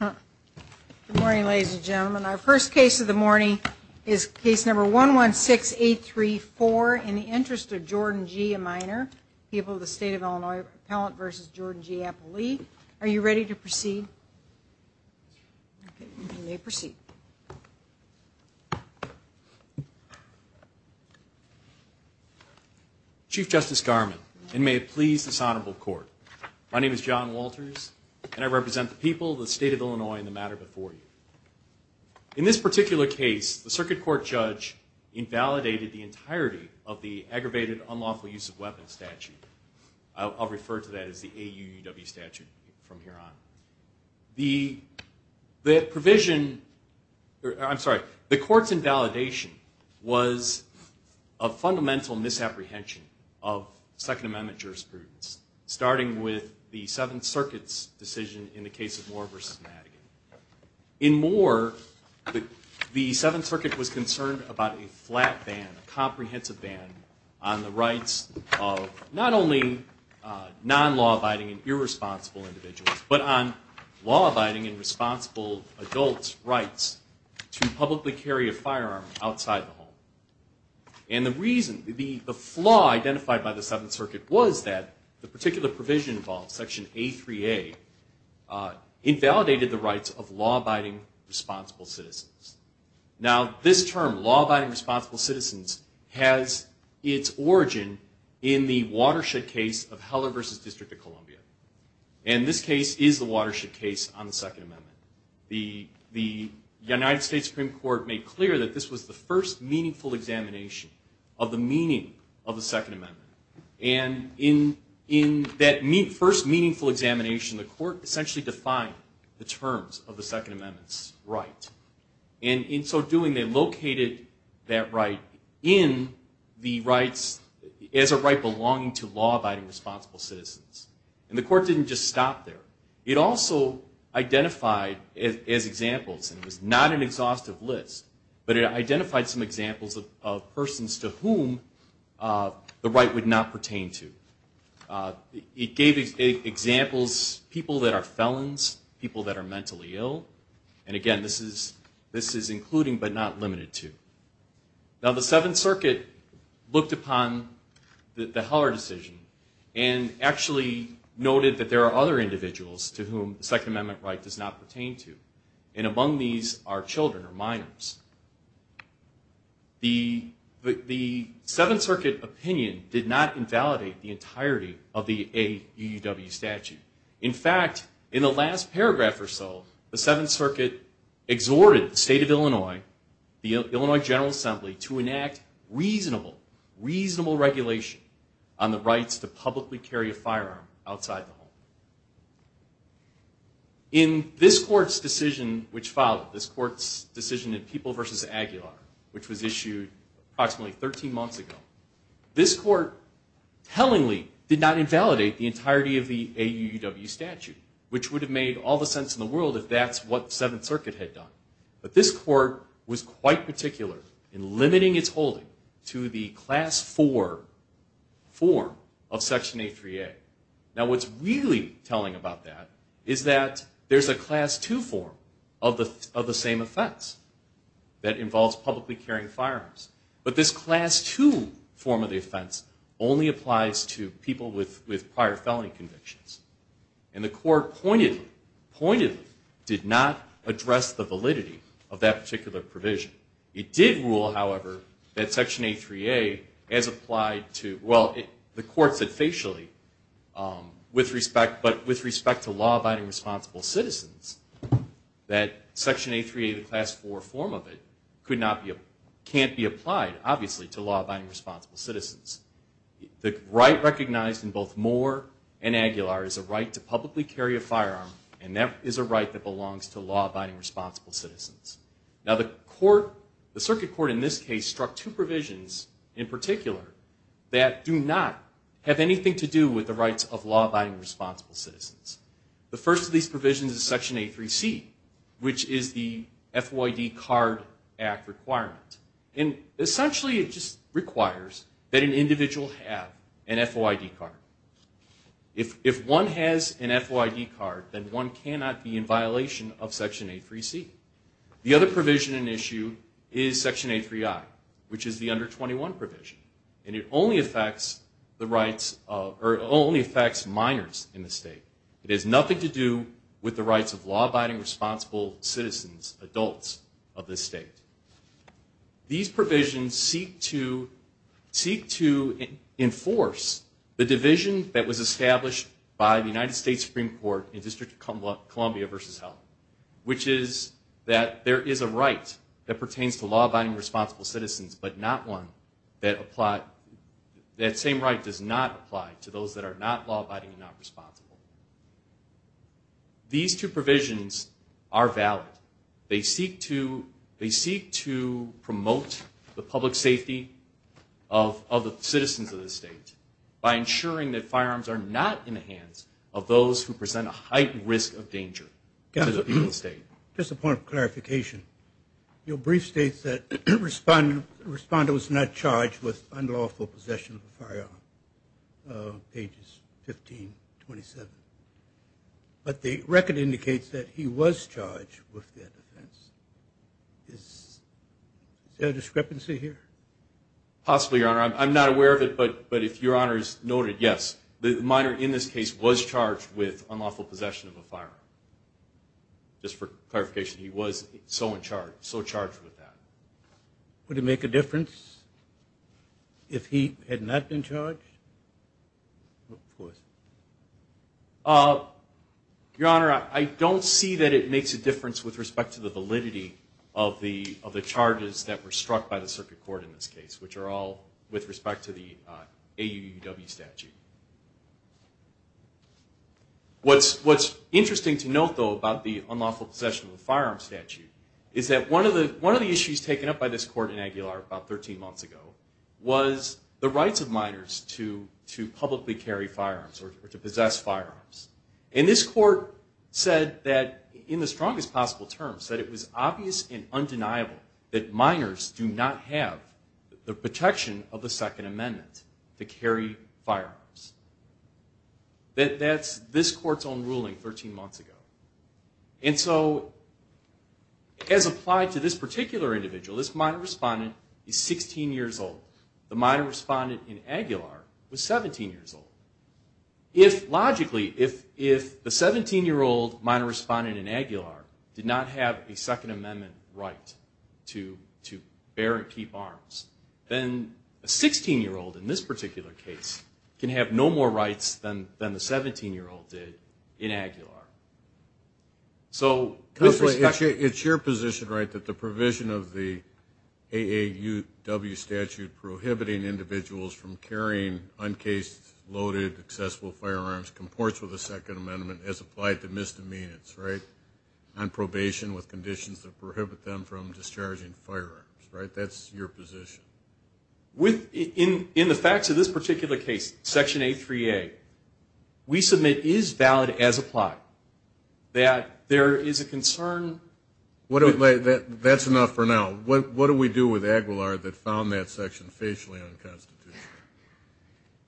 Good morning, ladies and gentlemen. Our first case of the morning is case number 116834 in the interest of Jordan G, a minor, People of the State of Illinois Appellant v. Jordan G. Appley. Are you ready to proceed? You may proceed. Chief Justice Garman, and may it please this honorable court, my name is John Walters, and I represent the people, the state of Illinois, and the matter before you. In this particular case, the circuit court judge invalidated the entirety of the aggravated unlawful use of weapons statute. I'll refer to that as the AUUW statute from here on. The court's invalidation was a fundamental misapprehension of Second Amendment jurisprudence, starting with the Seventh Circuit's decision in the case of Moore v. Madigan. In Moore, the Seventh Circuit was concerned about a flat ban, a comprehensive ban on the rights of not only non-law-abiding and irresponsible individuals, but on law-abiding and responsible adults' rights to publicly carry a firearm outside the home. And the reason, the flaw identified by the Seventh Circuit was that the particular provision involved, section A3A, invalidated the rights of law-abiding, responsible citizens. Now, this term, law-abiding, responsible citizens, has its origin in the Watershed case of Heller v. District of Columbia. And this case is the Watershed case on the Second Amendment. The United States Supreme Court made clear that this was the first meaningful examination of the meaning of the Second Amendment. And in that first meaningful examination, the court essentially defined the terms of the Second Amendment's right. And in so doing, they located that right in the rights, as a right belonging to law-abiding, responsible citizens. And the court didn't just stop there. It also identified as examples, and it was not an exhaustive list, but it identified some examples of persons to whom the right would not pertain to. It gave examples, people that are felons, people that are mentally ill. And again, this is including but not limited to. Now, the Seventh Circuit looked upon the Heller decision and actually noted that there are other individuals to whom the Second Amendment right does not pertain to. And among these are children or minors. The Seventh Circuit opinion did not invalidate the entirety of the AUUW statute. In fact, in the last paragraph or so, the Seventh Circuit exhorted the state of Illinois, the Illinois General Assembly, to enact reasonable, reasonable regulation on the rights to publicly carry a firearm outside the home. In this court's decision which followed, this court's decision in People v. Aguilar, which was issued approximately 13 months ago, this court tellingly did not invalidate the entirety of the AUUW statute, which would have made all the sense in the world if that's what the Seventh Circuit had done. But this court was quite particular in limiting its holding to the Class IV form of Section 838. Now, what's really telling about that is that there's a Class II form of the same offense that involves publicly carrying firearms, but this Class II form of the offense only applies to people with prior felony convictions. And the court pointedly, pointedly did not address the validity of that particular provision. It did rule, however, that Section 838, as applied to, well, the court said facially, but with respect to law-abiding responsible citizens, that Section 838, the Class IV form of it, can't be applied, obviously, to law-abiding responsible citizens. The right recognized in both Moore and Aguilar is a right to publicly carry a firearm, and that is a right that belongs to law-abiding responsible citizens. Now, the circuit court in this case struck two provisions in particular that do not have anything to do with the rights of law-abiding responsible citizens. The first of these provisions is Section 83C, which is the FOID Card Act requirement. And essentially, it just requires that an individual have an FOID card. If one has an FOID card, then one cannot be in violation of Section 83C. The other provision in issue is Section 83I, which is the Under 21 provision, and it only affects the rights of, or it only affects minors in the state. It has nothing to do with the rights of law-abiding responsible citizens, adults of this state. These provisions seek to enforce the division that was established by the United States Supreme Court in District of Columbia v. Health, which is that there is a right that pertains to law-abiding responsible citizens, but not one that applies, that same right does not apply to those that are not law-abiding and not responsible. These two provisions are valid. They seek to promote the public safety of the citizens of the state by ensuring that firearms are not in the hands of those who present a heightened risk of danger to the people of the state. Just a point of clarification. Your brief states that Respondo was not charged with unlawful possession of a firearm, pages 15-27. But the record indicates that he was charged with that offense. Is there a discrepancy here? Possibly, Your Honor. I'm not aware of it, but if Your Honor has noted, yes, the minor in this case was charged with unlawful possession of a firearm. Just for clarification, he was so in charge, so charged with that. Would it make a difference if he had not been charged? Of course. Your Honor, I don't see that it makes a difference with respect to the validity of the charges that were struck by the circuit court in this case, which are all with respect to the AUUW statute. What's interesting to note, though, about the unlawful possession of a firearm statute is that one of the issues taken up by this court in Aguilar about 13 months ago was the rights of minors to publicly carry firearms or to possess firearms. And this court said that, in the strongest possible terms, that it was obvious and undeniable that minors do not have the protection of the Second Amendment to carry firearms. That's this court's own ruling 13 months ago. And so, as applied to this particular individual, this minor respondent is 16 years old. The minor respondent in Aguilar was 17 years old. Logically, if the 17-year-old minor respondent in Aguilar did not have a Second Amendment right to bear and keep arms, then a 16-year-old in this particular case can have no more rights than the 17-year-old did in Aguilar. So, it's your position, right, that the provision of the AAUW statute prohibiting individuals from carrying uncased, loaded, accessible firearms comports with the Second Amendment as applied to misdemeanors, right? On probation with conditions that prohibit them from discharging firearms, right? That's your position. In the facts of this particular case, Section 838, we submit is valid as applied, that there is a concern. That's enough for now. What do we do with Aguilar that found that section facially unconstitutional?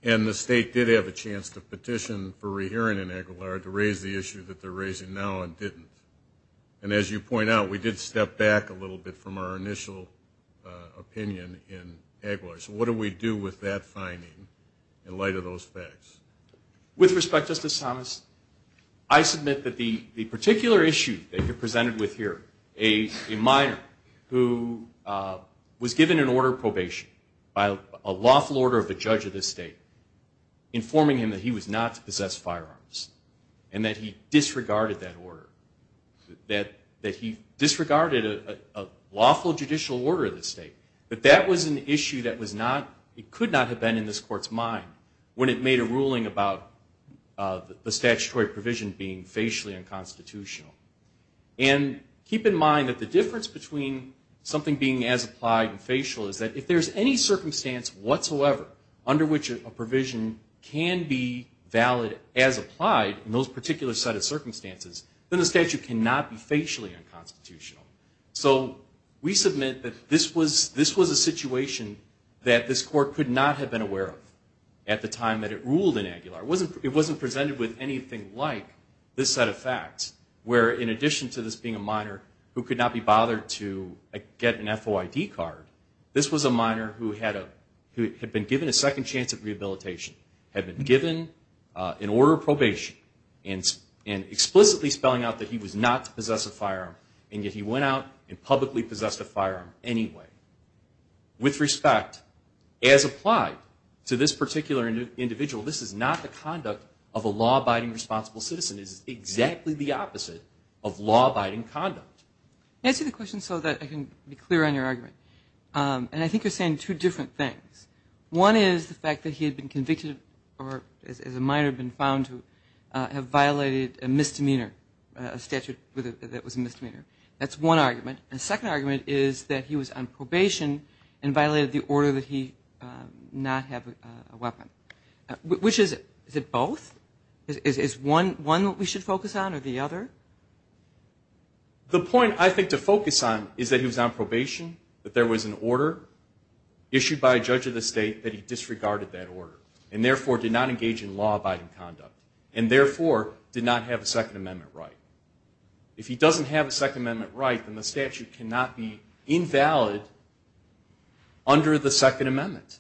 And the state did have a chance to petition for rehearing in Aguilar to raise the issue that they're raising now and didn't. And as you point out, we did step back a little bit from our initial opinion in Aguilar. So, what do we do with that finding in light of those facts? With respect, Justice Thomas, I submit that the particular issue that you're presented with here, a minor who was given an order of probation by a lawful order of the judge of the state informing him that he was not to possess firearms and that he disregarded that order. That he disregarded a lawful judicial order of the state. But that was an issue that was not, it could not have been in this court's mind when it made a ruling about the statutory provision being facially unconstitutional. And keep in mind that the difference between something being as applied and facial is that if there's any circumstance whatsoever under which a provision can be valid as applied in those particular set of circumstances, then the statute cannot be facially unconstitutional. So, we submit that this was a situation that this court could not have been aware of at the time that it ruled in Aguilar. It wasn't presented with anything like this set of facts where in addition to this being a minor who could not be bothered to get an FOID card, this was a minor who had been given a second chance of rehabilitation. Had been given an order of probation and explicitly spelling out that he was not to possess a firearm and yet he went out and publicly possessed a firearm anyway. With respect, as applied to this particular individual, this is not the conduct of a law-abiding responsible citizen. This is exactly the opposite of law-abiding conduct. Answer the question so that I can be clear on your argument. And I think you're saying two different things. One is the fact that he had been convicted or as a minor had been found to have violated a misdemeanor, a statute that was a misdemeanor. That's one argument. And the second argument is that he was on probation and violated the order that he not have a weapon. Which is it? Is it both? Is one what we should focus on or the other? The point I think to focus on is that he was on probation, that there was an order issued by a judge of the state that he disregarded that order and therefore did not engage in law-abiding conduct and therefore did not have a Second Amendment right. If he doesn't have a Second Amendment right, then the statute cannot be invalid under the Second Amendment.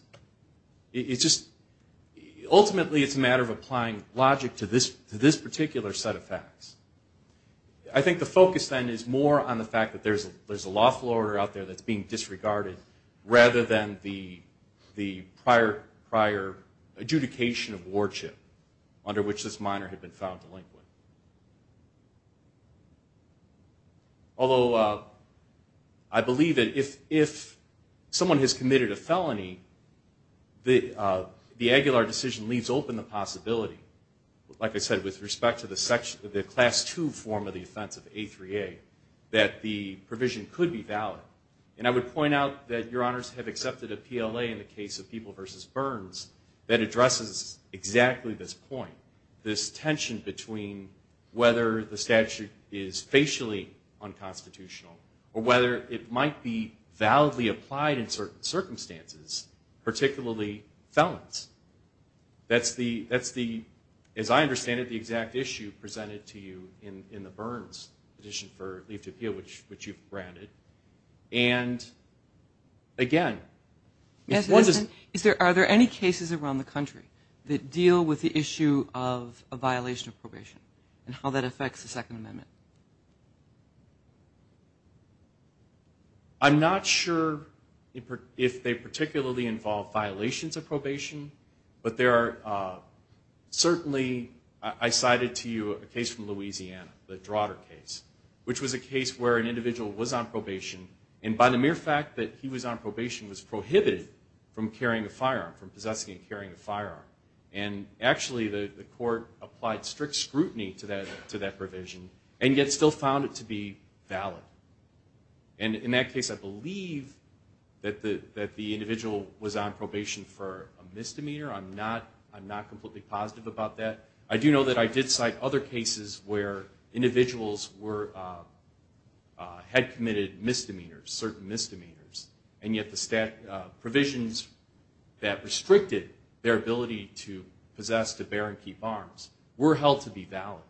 Ultimately, it's a matter of applying logic to this particular set of facts. I think the focus then is more on the fact that there's a lawful order out there that's being disregarded rather than the prior adjudication of wardship under which this minor had been found delinquent. Although I believe that if someone has committed a felony, the Aguilar decision leaves open the possibility, like I said, with respect to the Class II form of the offense of A3A, that the provision could be valid. I would point out that Your Honors have accepted a PLA in the case of People v. Burns that addresses exactly this point, this tension between whether the statute is facially unconstitutional or whether it might be validly applied in certain circumstances, particularly felons. That's the, as I understand it, the exact issue presented to you in the Burns petition for leave to appeal, which you've granted. Are there any cases around the country that deal with the issue of a violation of probation and how that affects the Second Amendment? I'm not sure if they particularly involve violations of probation, but there are certainly, I cited to you a case from Louisiana, the Drotter case, which was a case where an individual was on probation and by the mere fact that he was on probation was prohibited from carrying a firearm, from possessing and carrying a firearm. Actually, the court applied strict scrutiny to that provision and yet still found it to be valid. In that case, I believe that the individual was on probation for a misdemeanor. I'm not completely positive about that. I do know that I did cite other cases where individuals had committed misdemeanors, certain misdemeanors, and yet the provisions that restricted their ability to possess, to bear, and keep arms were held to be valid.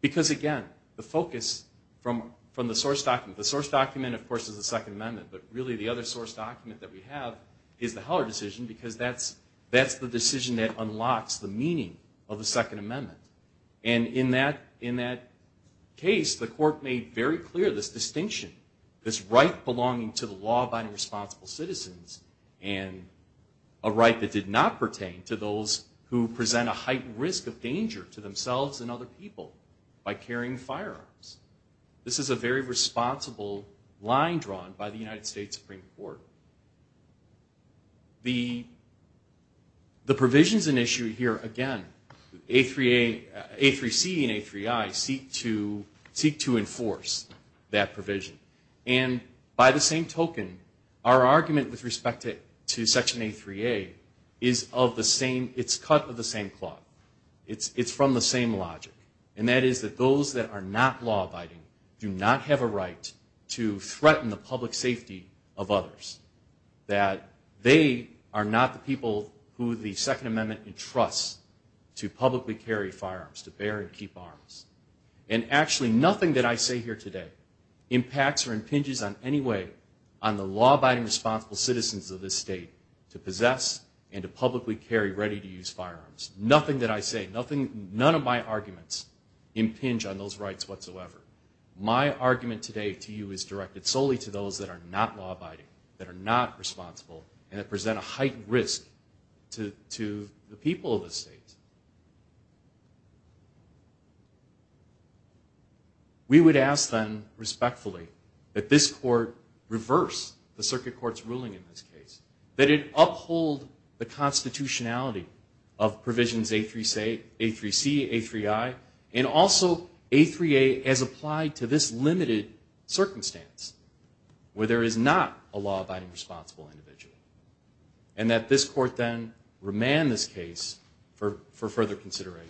Because again, the focus from the source document, the source document of course is the Second Amendment, but really the other source document that we have is the Heller decision because that's the decision that unlocks the meaning of the Second Amendment. And in that case, the court made very clear this distinction, this right belonging to the law binding responsible citizens and a right that did not pertain to those who present a heightened risk of danger to themselves and other people by carrying firearms. This is a very responsible line drawn by the United States Supreme Court. The provisions in issue here, again, A3C and A3I seek to enforce that provision. And by the same token, our argument with respect to Section A3A is of the same, it's cut of the same cloth. It's from the same logic, and that is that those that are not law abiding do not have a right to threaten the public safety of others. That they are not the people who the Second Amendment entrusts to publicly carry firearms, to bear and keep arms. And actually nothing that I say here today impacts or impinges on any way on the law abiding responsible citizens of this state to possess and to publicly carry ready to use firearms. Nothing that I say, none of my arguments impinge on those rights whatsoever. My argument today to you is directed solely to those that are not law abiding, that are not responsible, and that present a heightened risk to the people of this state. We would ask then, respectfully, that this court reverse the circuit court's ruling in this case. That it uphold the constitutionality of provisions A3C, A3I, and also A3A as applied to this limited circumstance where there is not a law abiding responsible individual. And that this court then remand this case for further consideration.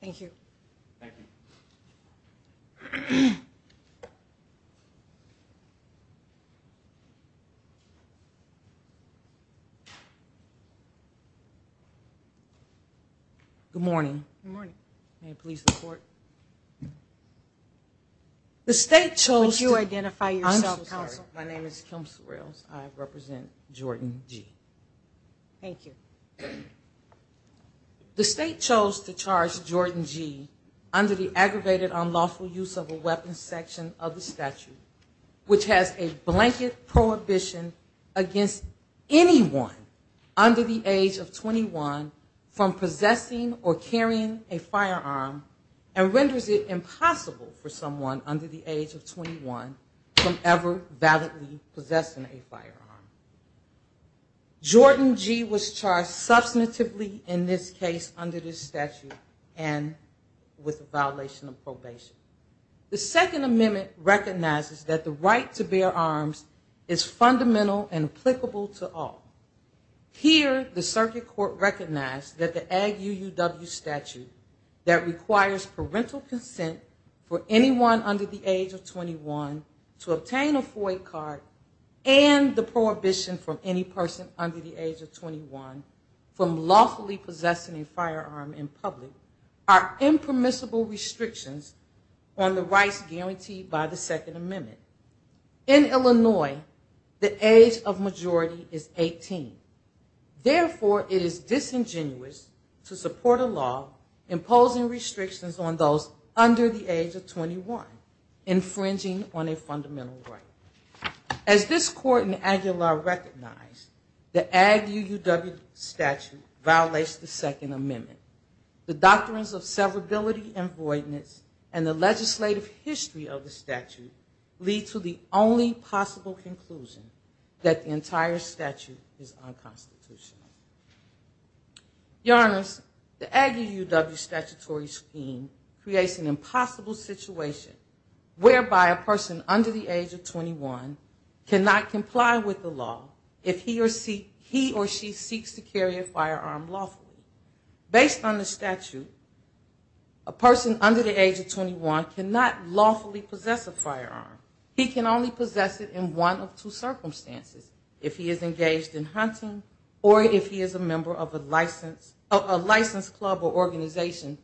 Thank you. Thank you. Good morning. Good morning. May it please the court. The state chose... Would you identify yourself counsel? I'm so sorry. My name is Kim Sorrells. I represent Jordan G. Thank you. The state chose to charge Jordan G under the aggravated unlawful use of a weapons section of the statute, which has a blanket prohibition against anyone under the age of 21 from possessing or carrying a firearm, and renders it impossible for someone under the age of 21 from ever validly possessing a firearm. Jordan G was charged substantively in this case under this statute and with a violation of probation. The second amendment recognizes that the right to bear arms is fundamental and applicable to all. Here the circuit court recognized that the ag UUW statute that requires parental consent for anyone under the age of 21 to obtain a FOIA card and the prohibition for any person under the age of 21 from lawfully possessing a firearm in public are impermissible restrictions on the rights guaranteed by the second amendment. In Illinois, the age of majority is 18. Therefore, it is disingenuous to support a law imposing restrictions on those under the age of 21, infringing on a fundamental right. As this court in Aguilar recognized, the ag UUW statute violates the second amendment. The doctrines of severability and voidness and the legislative history of the statute lead to the only possible conclusion that the entire statute is unconstitutional. Your Honors, the ag UUW statutory scheme creates an impossible situation whereby a person under the age of 21 is unable to comply with the law if he or she seeks to carry a firearm lawfully. Based on the statute, a person under the age of 21 cannot lawfully possess a firearm. He can only possess it in one of two circumstances, if he is engaged in hunting or if he is a member of a licensed club or organization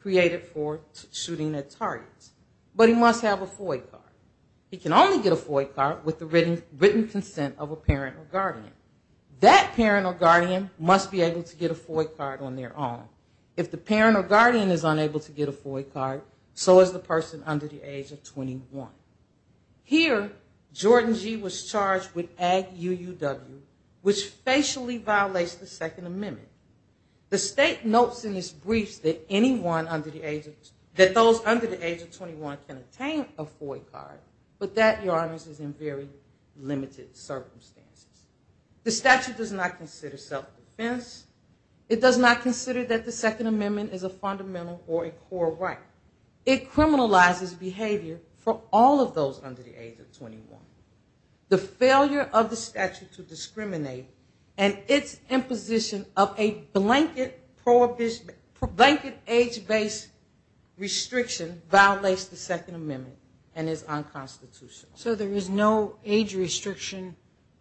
created for shooting at targets. But he must have a FOIA card. He can only get a FOIA card with the written consent of a parent or guardian. That parent or guardian must be able to get a FOIA card on their own. If the parent or guardian is unable to get a FOIA card, so is the person under the age of 21. Here, Jordan G. was charged with ag UUW, which facially violates the second amendment. The state notes in its briefs that anyone under the age of 21 can obtain a FOIA card, but that, however, is in very limited circumstances. The statute does not consider self-defense. It does not consider that the second amendment is a fundamental or a core right. It criminalizes behavior for all of those under the age of 21. The failure of the statute to discriminate and its imposition of a blanket age-based restriction violates the second amendment and is unconstitutional. So there is no age restriction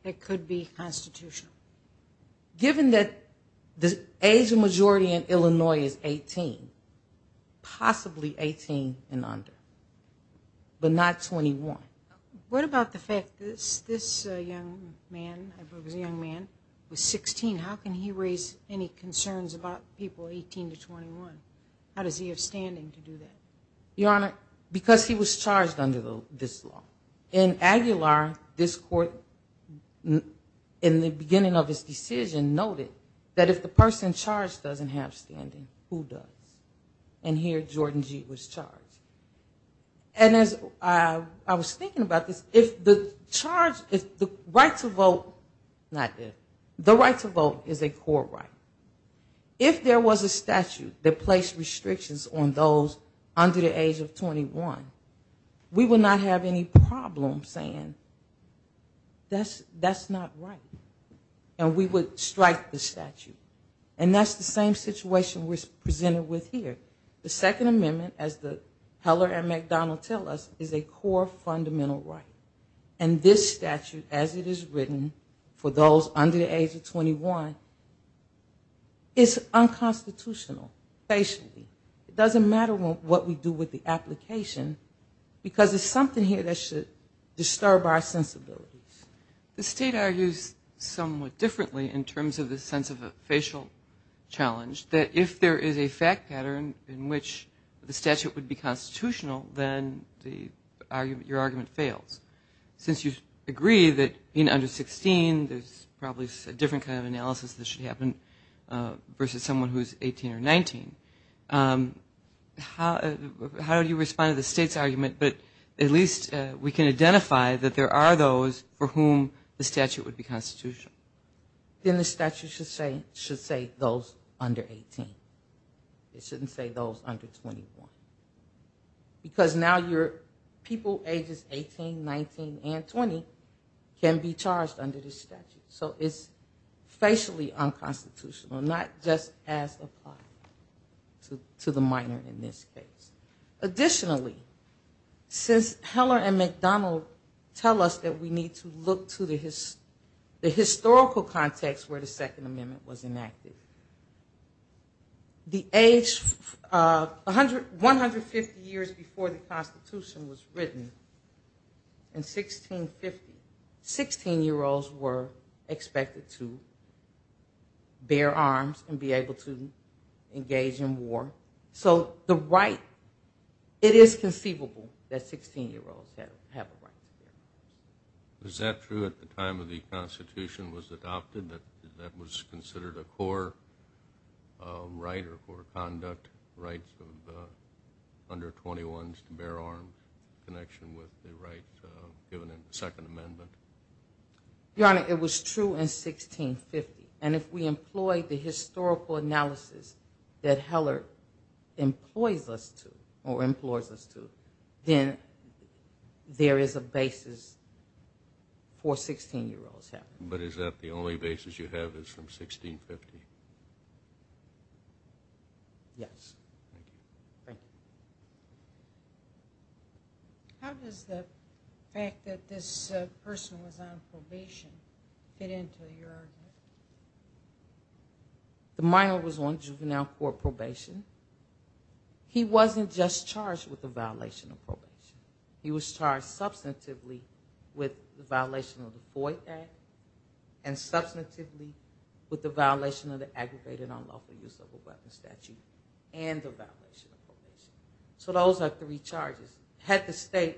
that could be constitutional? Given that the age majority in Illinois is 18, possibly 18 and under, but not 21. What about the fact that this young man was 16, how can he raise any concerns about people 18 to 21? How does he have standing to do that? Your Honor, because he was charged under this law. In Aguilar, this court, in the beginning of his decision, noted that if the person charged doesn't have standing, who does? And here, Jordan G. was charged. And as I was thinking about this, if the charge, if the right to vote, not there, the right to vote is a core right. If there was a statute that placed restrictions on those under the age of 21, we would not have any problem saying that's not right. And we would strike the statute. And that's the same situation we're presented with here. The second amendment, as the Heller and McDonnell tell us, is a core fundamental right. And this statute, as it is written, for those under the age of 21, is unconstitutional, basically. It doesn't make sense. It doesn't matter what we do with the application, because there's something here that should disturb our sensibilities. The State argues somewhat differently in terms of the sense of a facial challenge, that if there is a fact pattern in which the statute would be constitutional, then your argument fails. Since you agree that being under 16, there's probably a different kind of analysis that should happen versus someone who's 18 or 19. And I think that's the case. How do you respond to the State's argument, but at least we can identify that there are those for whom the statute would be constitutional? Then the statute should say those under 18. It shouldn't say those under 21. Because now your people ages 18, 19, and 20 can be charged under this statute. So it's facially unconstitutional, not just as applied to the minor in this case. Additionally, since Heller and McDonald tell us that we need to look to the historical context where the Second Amendment was enacted, the age 150 years before the Constitution was written, in 1650, 16-year-olds were expected to bear arms and be able to fight. It is conceivable that 16-year-olds have a right to bear arms. Is that true at the time the Constitution was adopted, that that was considered a core right or core conduct, rights of under 21s to bear arms, in connection with the right given in the Second Amendment? Your Honor, it was true in 1650. And if we employ the historical analysis that Heller employs us to do, it is true in 1650. But is that the only basis you have is from 1650? Yes. Thank you. How does the fact that this person was on probation fit into your argument? The minor was on juvenile court probation. He wasn't just charged with a violation of probation. He was charged substantively with the violation of the Foy Act and substantively with the violation of the Aggravated Unlawful Use of a Child. So those are three charges. Had the state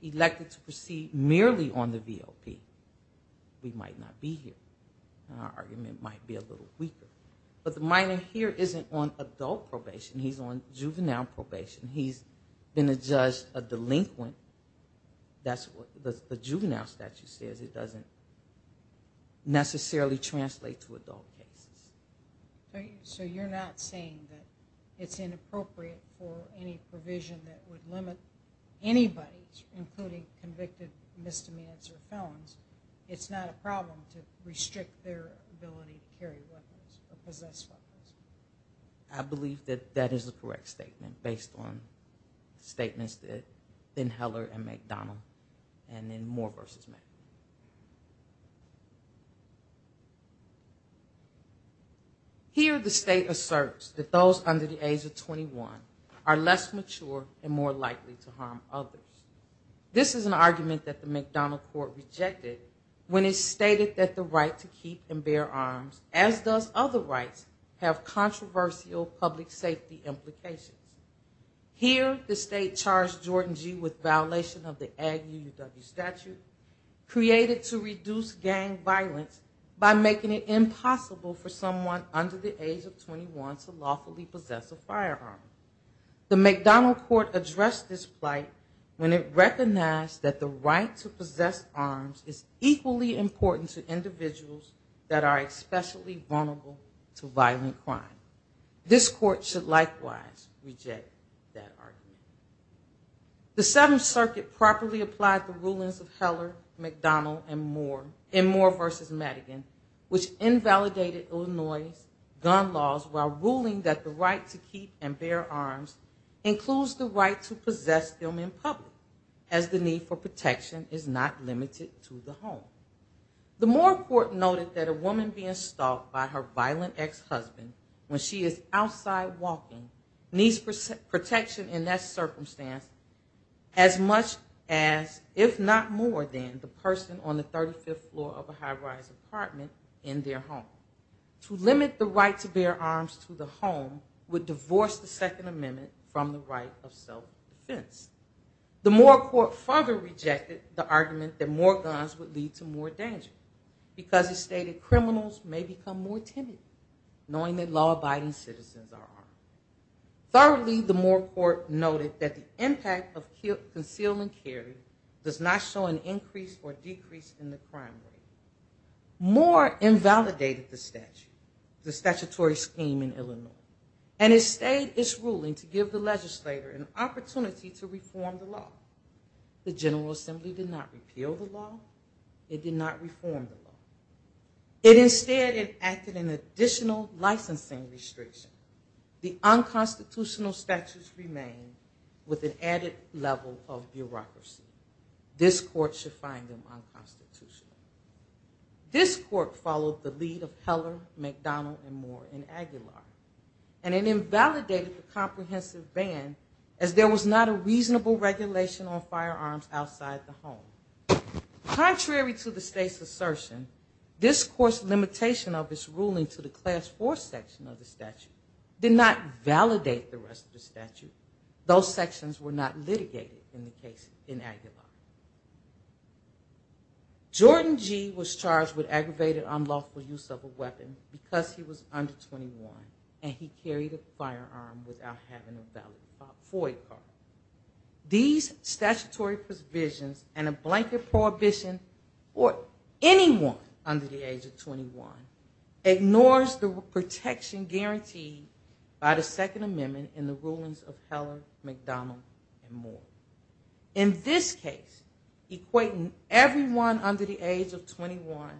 elected to proceed merely on the VOP, we might not be here. Our argument might be a little weaker. But the minor here isn't on adult probation. He's on juvenile probation. He's been a judge, a delinquent. That's what the juvenile statute says. It doesn't necessarily translate to adult cases. So you're not saying that it's inappropriate for any provision that would limit anybody, including convicted misdemeanors or felons, it's not a problem to restrict their ability to carry weapons or possess weapons? I believe that that is the correct statement based on statements in Heller and McDonnell and in Moore v. Mac. Here the state asserts that those under the age of 21 are less mature and more likely to harm others. This is an argument that the McDonnell court rejected when it stated that the right to keep and bear arms, as does other rights, have controversial public safety implications. Here the state charged Jordan G. with violation of the Ag UUW statute, created to reduce gang violence by making it impossible for someone under the age of 21 to lawfully possess a firearm. The McDonnell court addressed this plight when it recognized that the right to possess arms is equally important to individuals that are especially vulnerable to violent crime. This court should likewise reject that argument. The Seventh Circuit properly applied the rulings of Heller, McDonnell and Moore in Moore v. Madigan, which invalidated Illinois' gun laws while ruling that the right to keep and bear arms includes the right to possess them in public, as the need for protection is not limited to the home. The Moore court noted that a woman being stalked by her violent ex-husband when she is outside walking needs protection in that area, and that is the best circumstance as much as, if not more than, the person on the 35th floor of a high-rise apartment in their home. To limit the right to bear arms to the home would divorce the Second Amendment from the right of self-defense. The Moore court further rejected the argument that more guns would lead to more danger, because it stated criminals may become more timid knowing that law-abiding citizens are armed. Thirdly, the Moore court noted that the impact of concealment carry does not show an increase or decrease in the crime rate. Moore invalidated the statute, the statutory scheme in Illinois, and it stayed its ruling to give the legislator an opportunity to reform the law. The General Assembly did not repeal the law. It did not reform the law. It instead enacted an additional licensing restriction. The unconstitutional statutes remain with an added level of bureaucracy. This court should find them unconstitutional. This court followed the lead of Heller, McDonald, and Moore in Aguilar, and it invalidated the comprehensive ban, as there was not a reasonable regulation on firearms outside the home. Contrary to the state's assertion, this court's limitation of its ruling to the class fourth amendment would invalidate the rest of the statute. Those sections were not litigated in the case in Aguilar. Jordan G. was charged with aggravated unlawful use of a weapon because he was under 21, and he carried a firearm without having a valid FOIA card. These statutory provisions and a blanket prohibition for anyone under the age of 21 ignores the protection guaranteed by the second amendment in the rulings of Heller, McDonald, and Moore. In this case, equating everyone under the age of 21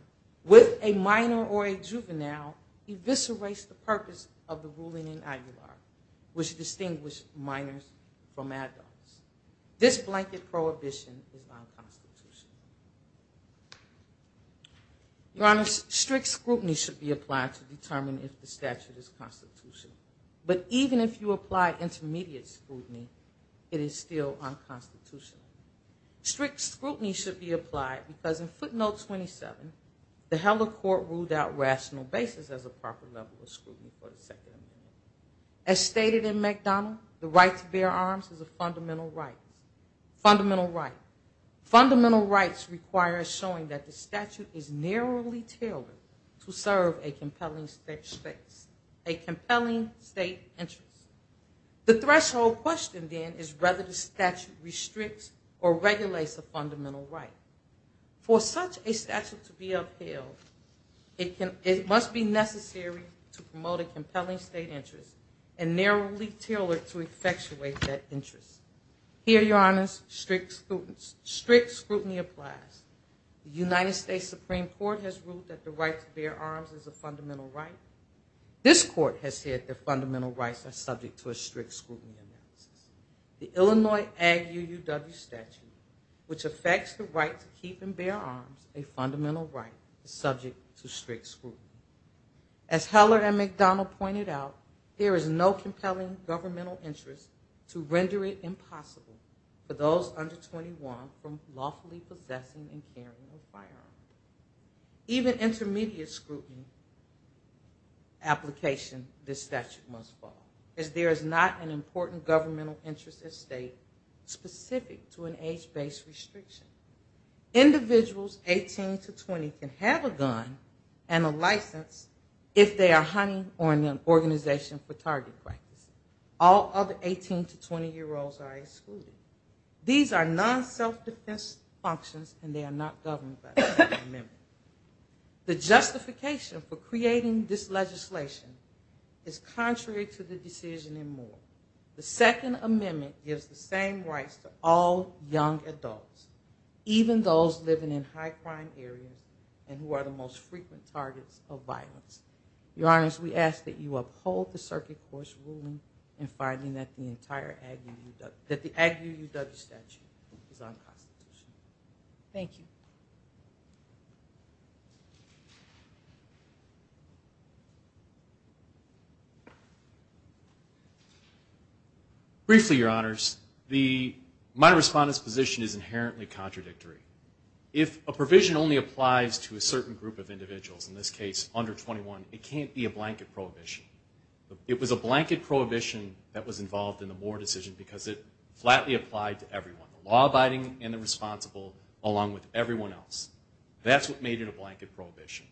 with a minor or a juvenile eviscerates the purpose of the ruling in Aguilar, which distinguished minors from adults. This blanket prohibition is unconstitutional. Your Honor, strict scrutiny should be applied to determine if the statute is constitutional. But even if you apply intermediate scrutiny, it is still unconstitutional. Strict scrutiny should be applied because in footnote 27, the Heller court ruled out rational basis as a proper level of scrutiny for the second amendment. As stated in McDonald, the right to bear arms is a fundamental right. Fundamental rights require showing that the statute is narrowly tailored to serve a compelling state interest. The threshold question then is whether the statute restricts or regulates a fundamental right. For such a statute to be upheld, it must be necessary to promote a compelling state interest and narrowly tailored to effectuate that interest. Here, Your Honors, strict scrutiny applies. The United States Supreme Court has ruled that the right to bear arms is a fundamental right. This court has said that fundamental rights are subject to a strict scrutiny analysis. The Illinois Ag UUW statute, which affects the right to keep and bear arms, a fundamental right, is subject to strict scrutiny. As Heller and McDonald pointed out, there is no compelling governmental interest to render it impossible for those under 21 from lawfully possessing and carrying a firearm. Even intermediate scrutiny application, this statute must follow, as there is not an important governmental interest at stake specific to an age-based restriction. Individuals 18 to 20 can have a gun and a license if they are hunting or in an organization for target practice. All other 18 to 20-year-olds are excluded. These are non-self-defense functions and they are not governed by the Second Amendment. The justification for creating this legislation is contrary to the decision in Moore. The Second Amendment gives the same rights to all young adults, even those living in high-crime areas and who are the most frequent targets of violence. Your Honors, we ask that you uphold the circuit court's ruling in finding that the entire Ag UUW statute is unconstitutional. Thank you. Briefly, Your Honors, my respondent's position is inherently contradictory. If a provision only applies to a certain group of individuals, in this case under 21, it can't be a blanket prohibition. It was a blanket prohibition that was made in a blanket prohibition.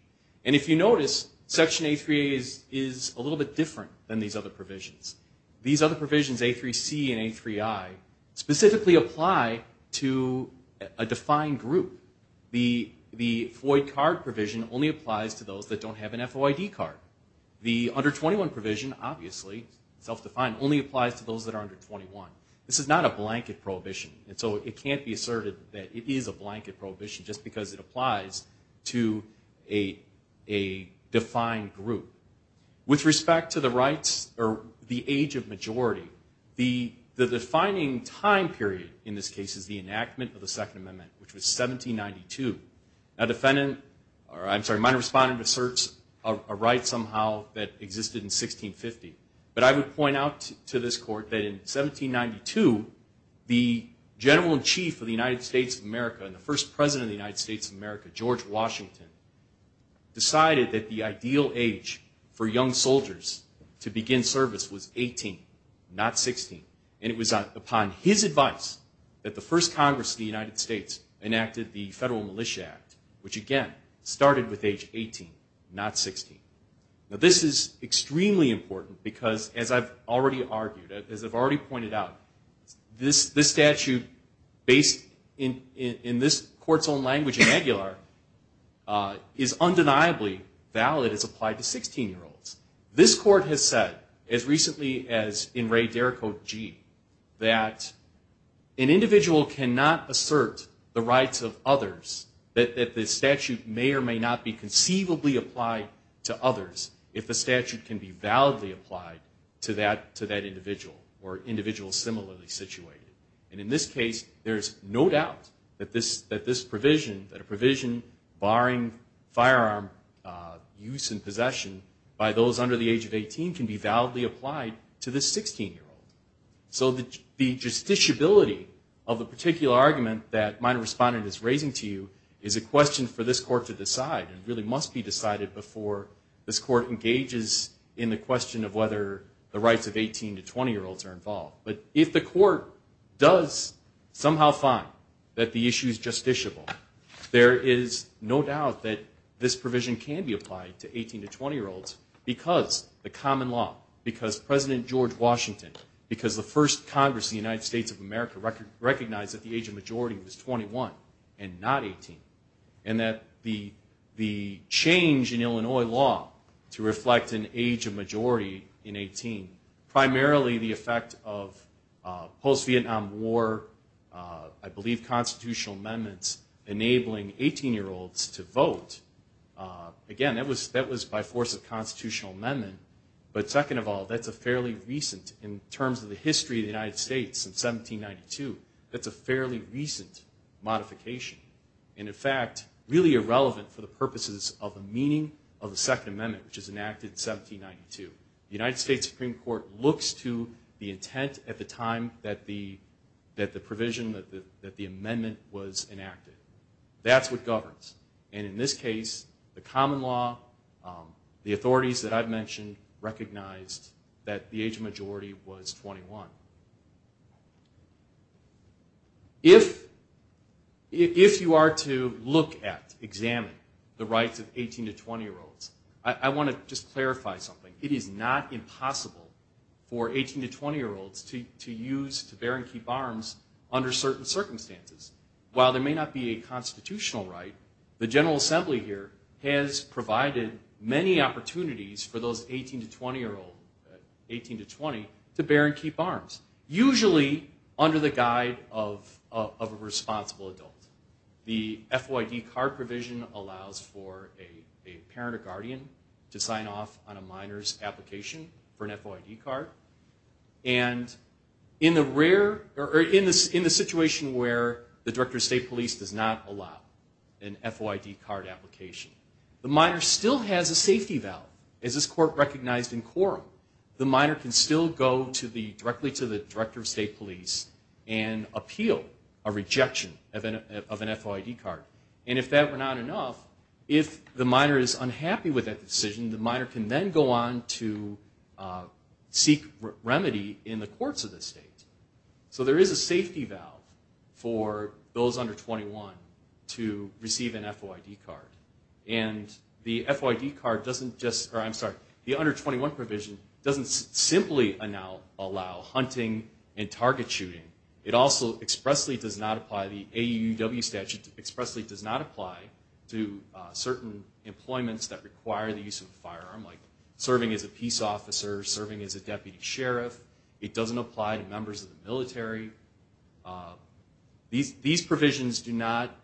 And if you notice, Section A3A is a little bit different than these other provisions. These other provisions, A3C and A3I, specifically apply to a defined group. The FOID card provision only applies to those that don't have an FOID card. The under 21 provision, obviously, self-defined, only applies to those that are under 21. This is not a blanket prohibition. And so it can't be asserted that it is a blanket prohibition just because it applies to a defined group. With respect to the rights or the age of majority, the defining time period in this case is the enactment of the Second Amendment, which was 1792. My respondent asserts a right somehow that existed in 1650. But I would point out to this Court that in 1792, the General and Chief of the United States of America and the first President of the United States of America, George Washington, decided that the ideal age for young soldiers to begin service was 18, not 16. And it was upon his advice that the first Congress of the United States enacted the Federal Militia Act, which again, started with age 18, not 16. Now this is extremely important because, as I've already alluded to, the statute, as you argued, as I've already pointed out, this statute, based in this Court's own language in Aguilar, is undeniably valid as applied to 16-year-olds. This Court has said, as recently as in Ray Derricotte G., that an individual cannot assert the rights of others that the statute may or may not be conceivably applied to others if the statute can be validly applied to that individual or individuals similarly situated. And in this case, there's no doubt that this provision, that a provision barring firearm use and possession by those under the age of 18 can be validly applied to this 16-year-old. So the justiciability of the particular argument that my respondent is raising to you is a question for this Court to decide and really must be decided before this Court engages in the question of whether the rights of 18 to 16 are involved. But if the Court does somehow find that the issue is justiciable, there is no doubt that this provision can be applied to 18 to 20-year-olds because the common law, because President George Washington, because the first Congress in the United States of America recognized that the age of majority was 21 and not 18, and that the change in the Constitution was a fairly recent modification. And in fact, really irrelevant for the purposes of the meaning of the question, but it's relevant to the intent at the time that the provision, that the amendment was enacted. That's what governs. And in this case, the common law, the authorities that I've mentioned recognized that the age of majority was 21. If you are to look at, examine the rights of 18 to 20-year-olds, I want to just clarify something. It is not impossible for 18 to 20-year-olds to use, to bear and keep arms under certain circumstances. While there may not be a constitutional right, the General Assembly here has provided many opportunities for those 18 to 20-year-olds to bear and keep arms, usually under the guide of a responsible adult. The FYD card provision allows for a parent or guardian to sign off on a minor's application for an FYD card. And in the rare, or in the situation where the Director of State Police does not allow an FYD card application, the minor still has a safety valve, as this court recognized in quorum. The minor can still go directly to the Director of State Police and appeal a rejection of an FYD card. And if that were not enough, if the minor is unhappy with that decision, the minor can then go on to seek remedy in the courts of the state. So there is a safety valve for those under 21 to receive an FYD card. And the FYD card doesn't just, or I'm sorry, the under 21 provision doesn't simply allow hunting and target shooting. It also expressly does not apply, the AUW statute expressly does not apply to certain employments that require the use of a firearm, like serving as a peace officer, serving as a deputy sheriff. It doesn't apply to members of the military. These provisions do not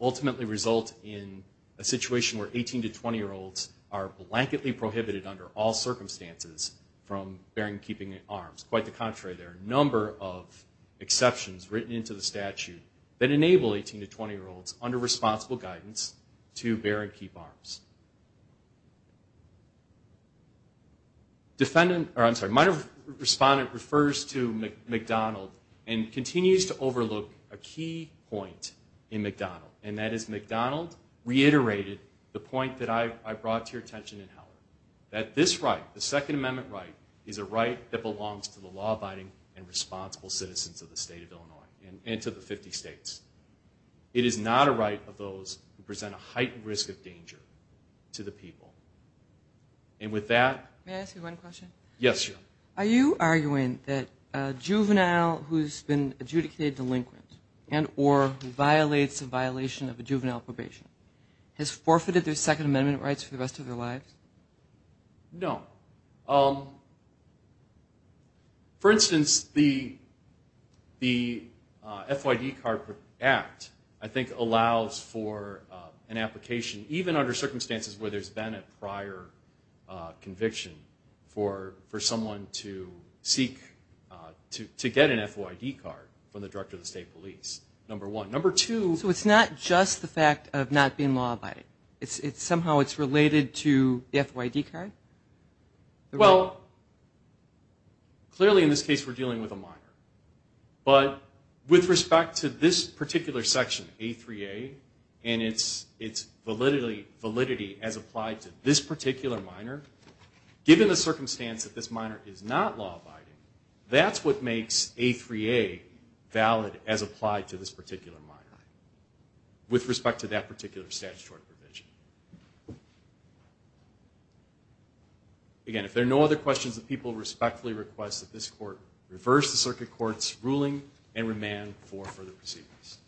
ultimately result in a situation where 18 to 20-year-olds are blanketly prohibited under all circumstances from bearing and keeping arms. Quite the contrary, there are a number of exceptions written into the statute that enable 18 to 20-year-olds under responsible guidance to bear and keep arms. Defendant, or I'm sorry, minor respondent refers to McDonald and continues to overlook a key point in McDonald, and that is McDonald reiterated the point that I brought to your attention in Heller, that this right, the Second Amendment right, is a right that belongs to the law-abiding and responsible citizens of the state of Illinois and to the 50 states. It is not a right of those who present a heightened risk of danger to the people. And with that... May I ask you one question? Yes. Are you arguing that a juvenile who's been adjudicated delinquent and or violates a violation of a juvenile probation has forfeited their Second Amendment rights for the rest of their lives? No. For instance, the FYD Card Act, I think, allows for an application, even under circumstances where there's been a prior conviction, for someone to seek to get an FYD card from the Director of the State Police, number one. Number two... Somehow it's related to the FYD card? Well, clearly in this case we're dealing with a minor. But with respect to this particular section, A3A, and its validity as applied to this particular minor, given the circumstance that this minor is not law-abiding, that's what makes A3A valid as applied to this particular minor with respect to that particular statutory provision. Again, if there are no other questions, the people respectfully request that this Court reverse the Circuit Court's ruling and remand for further proceedings.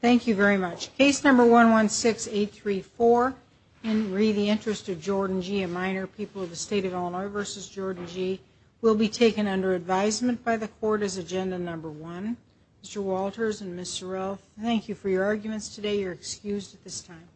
Thank you very much. Case number 116834, Henry, the interest of Jordan G., a minor, people of the State of Illinois v. Jordan G., will be taken under advisement by the Court as agenda number one. Mr. Walters and Ms. Sorrell, thank you for your arguments today. You're excused at this time.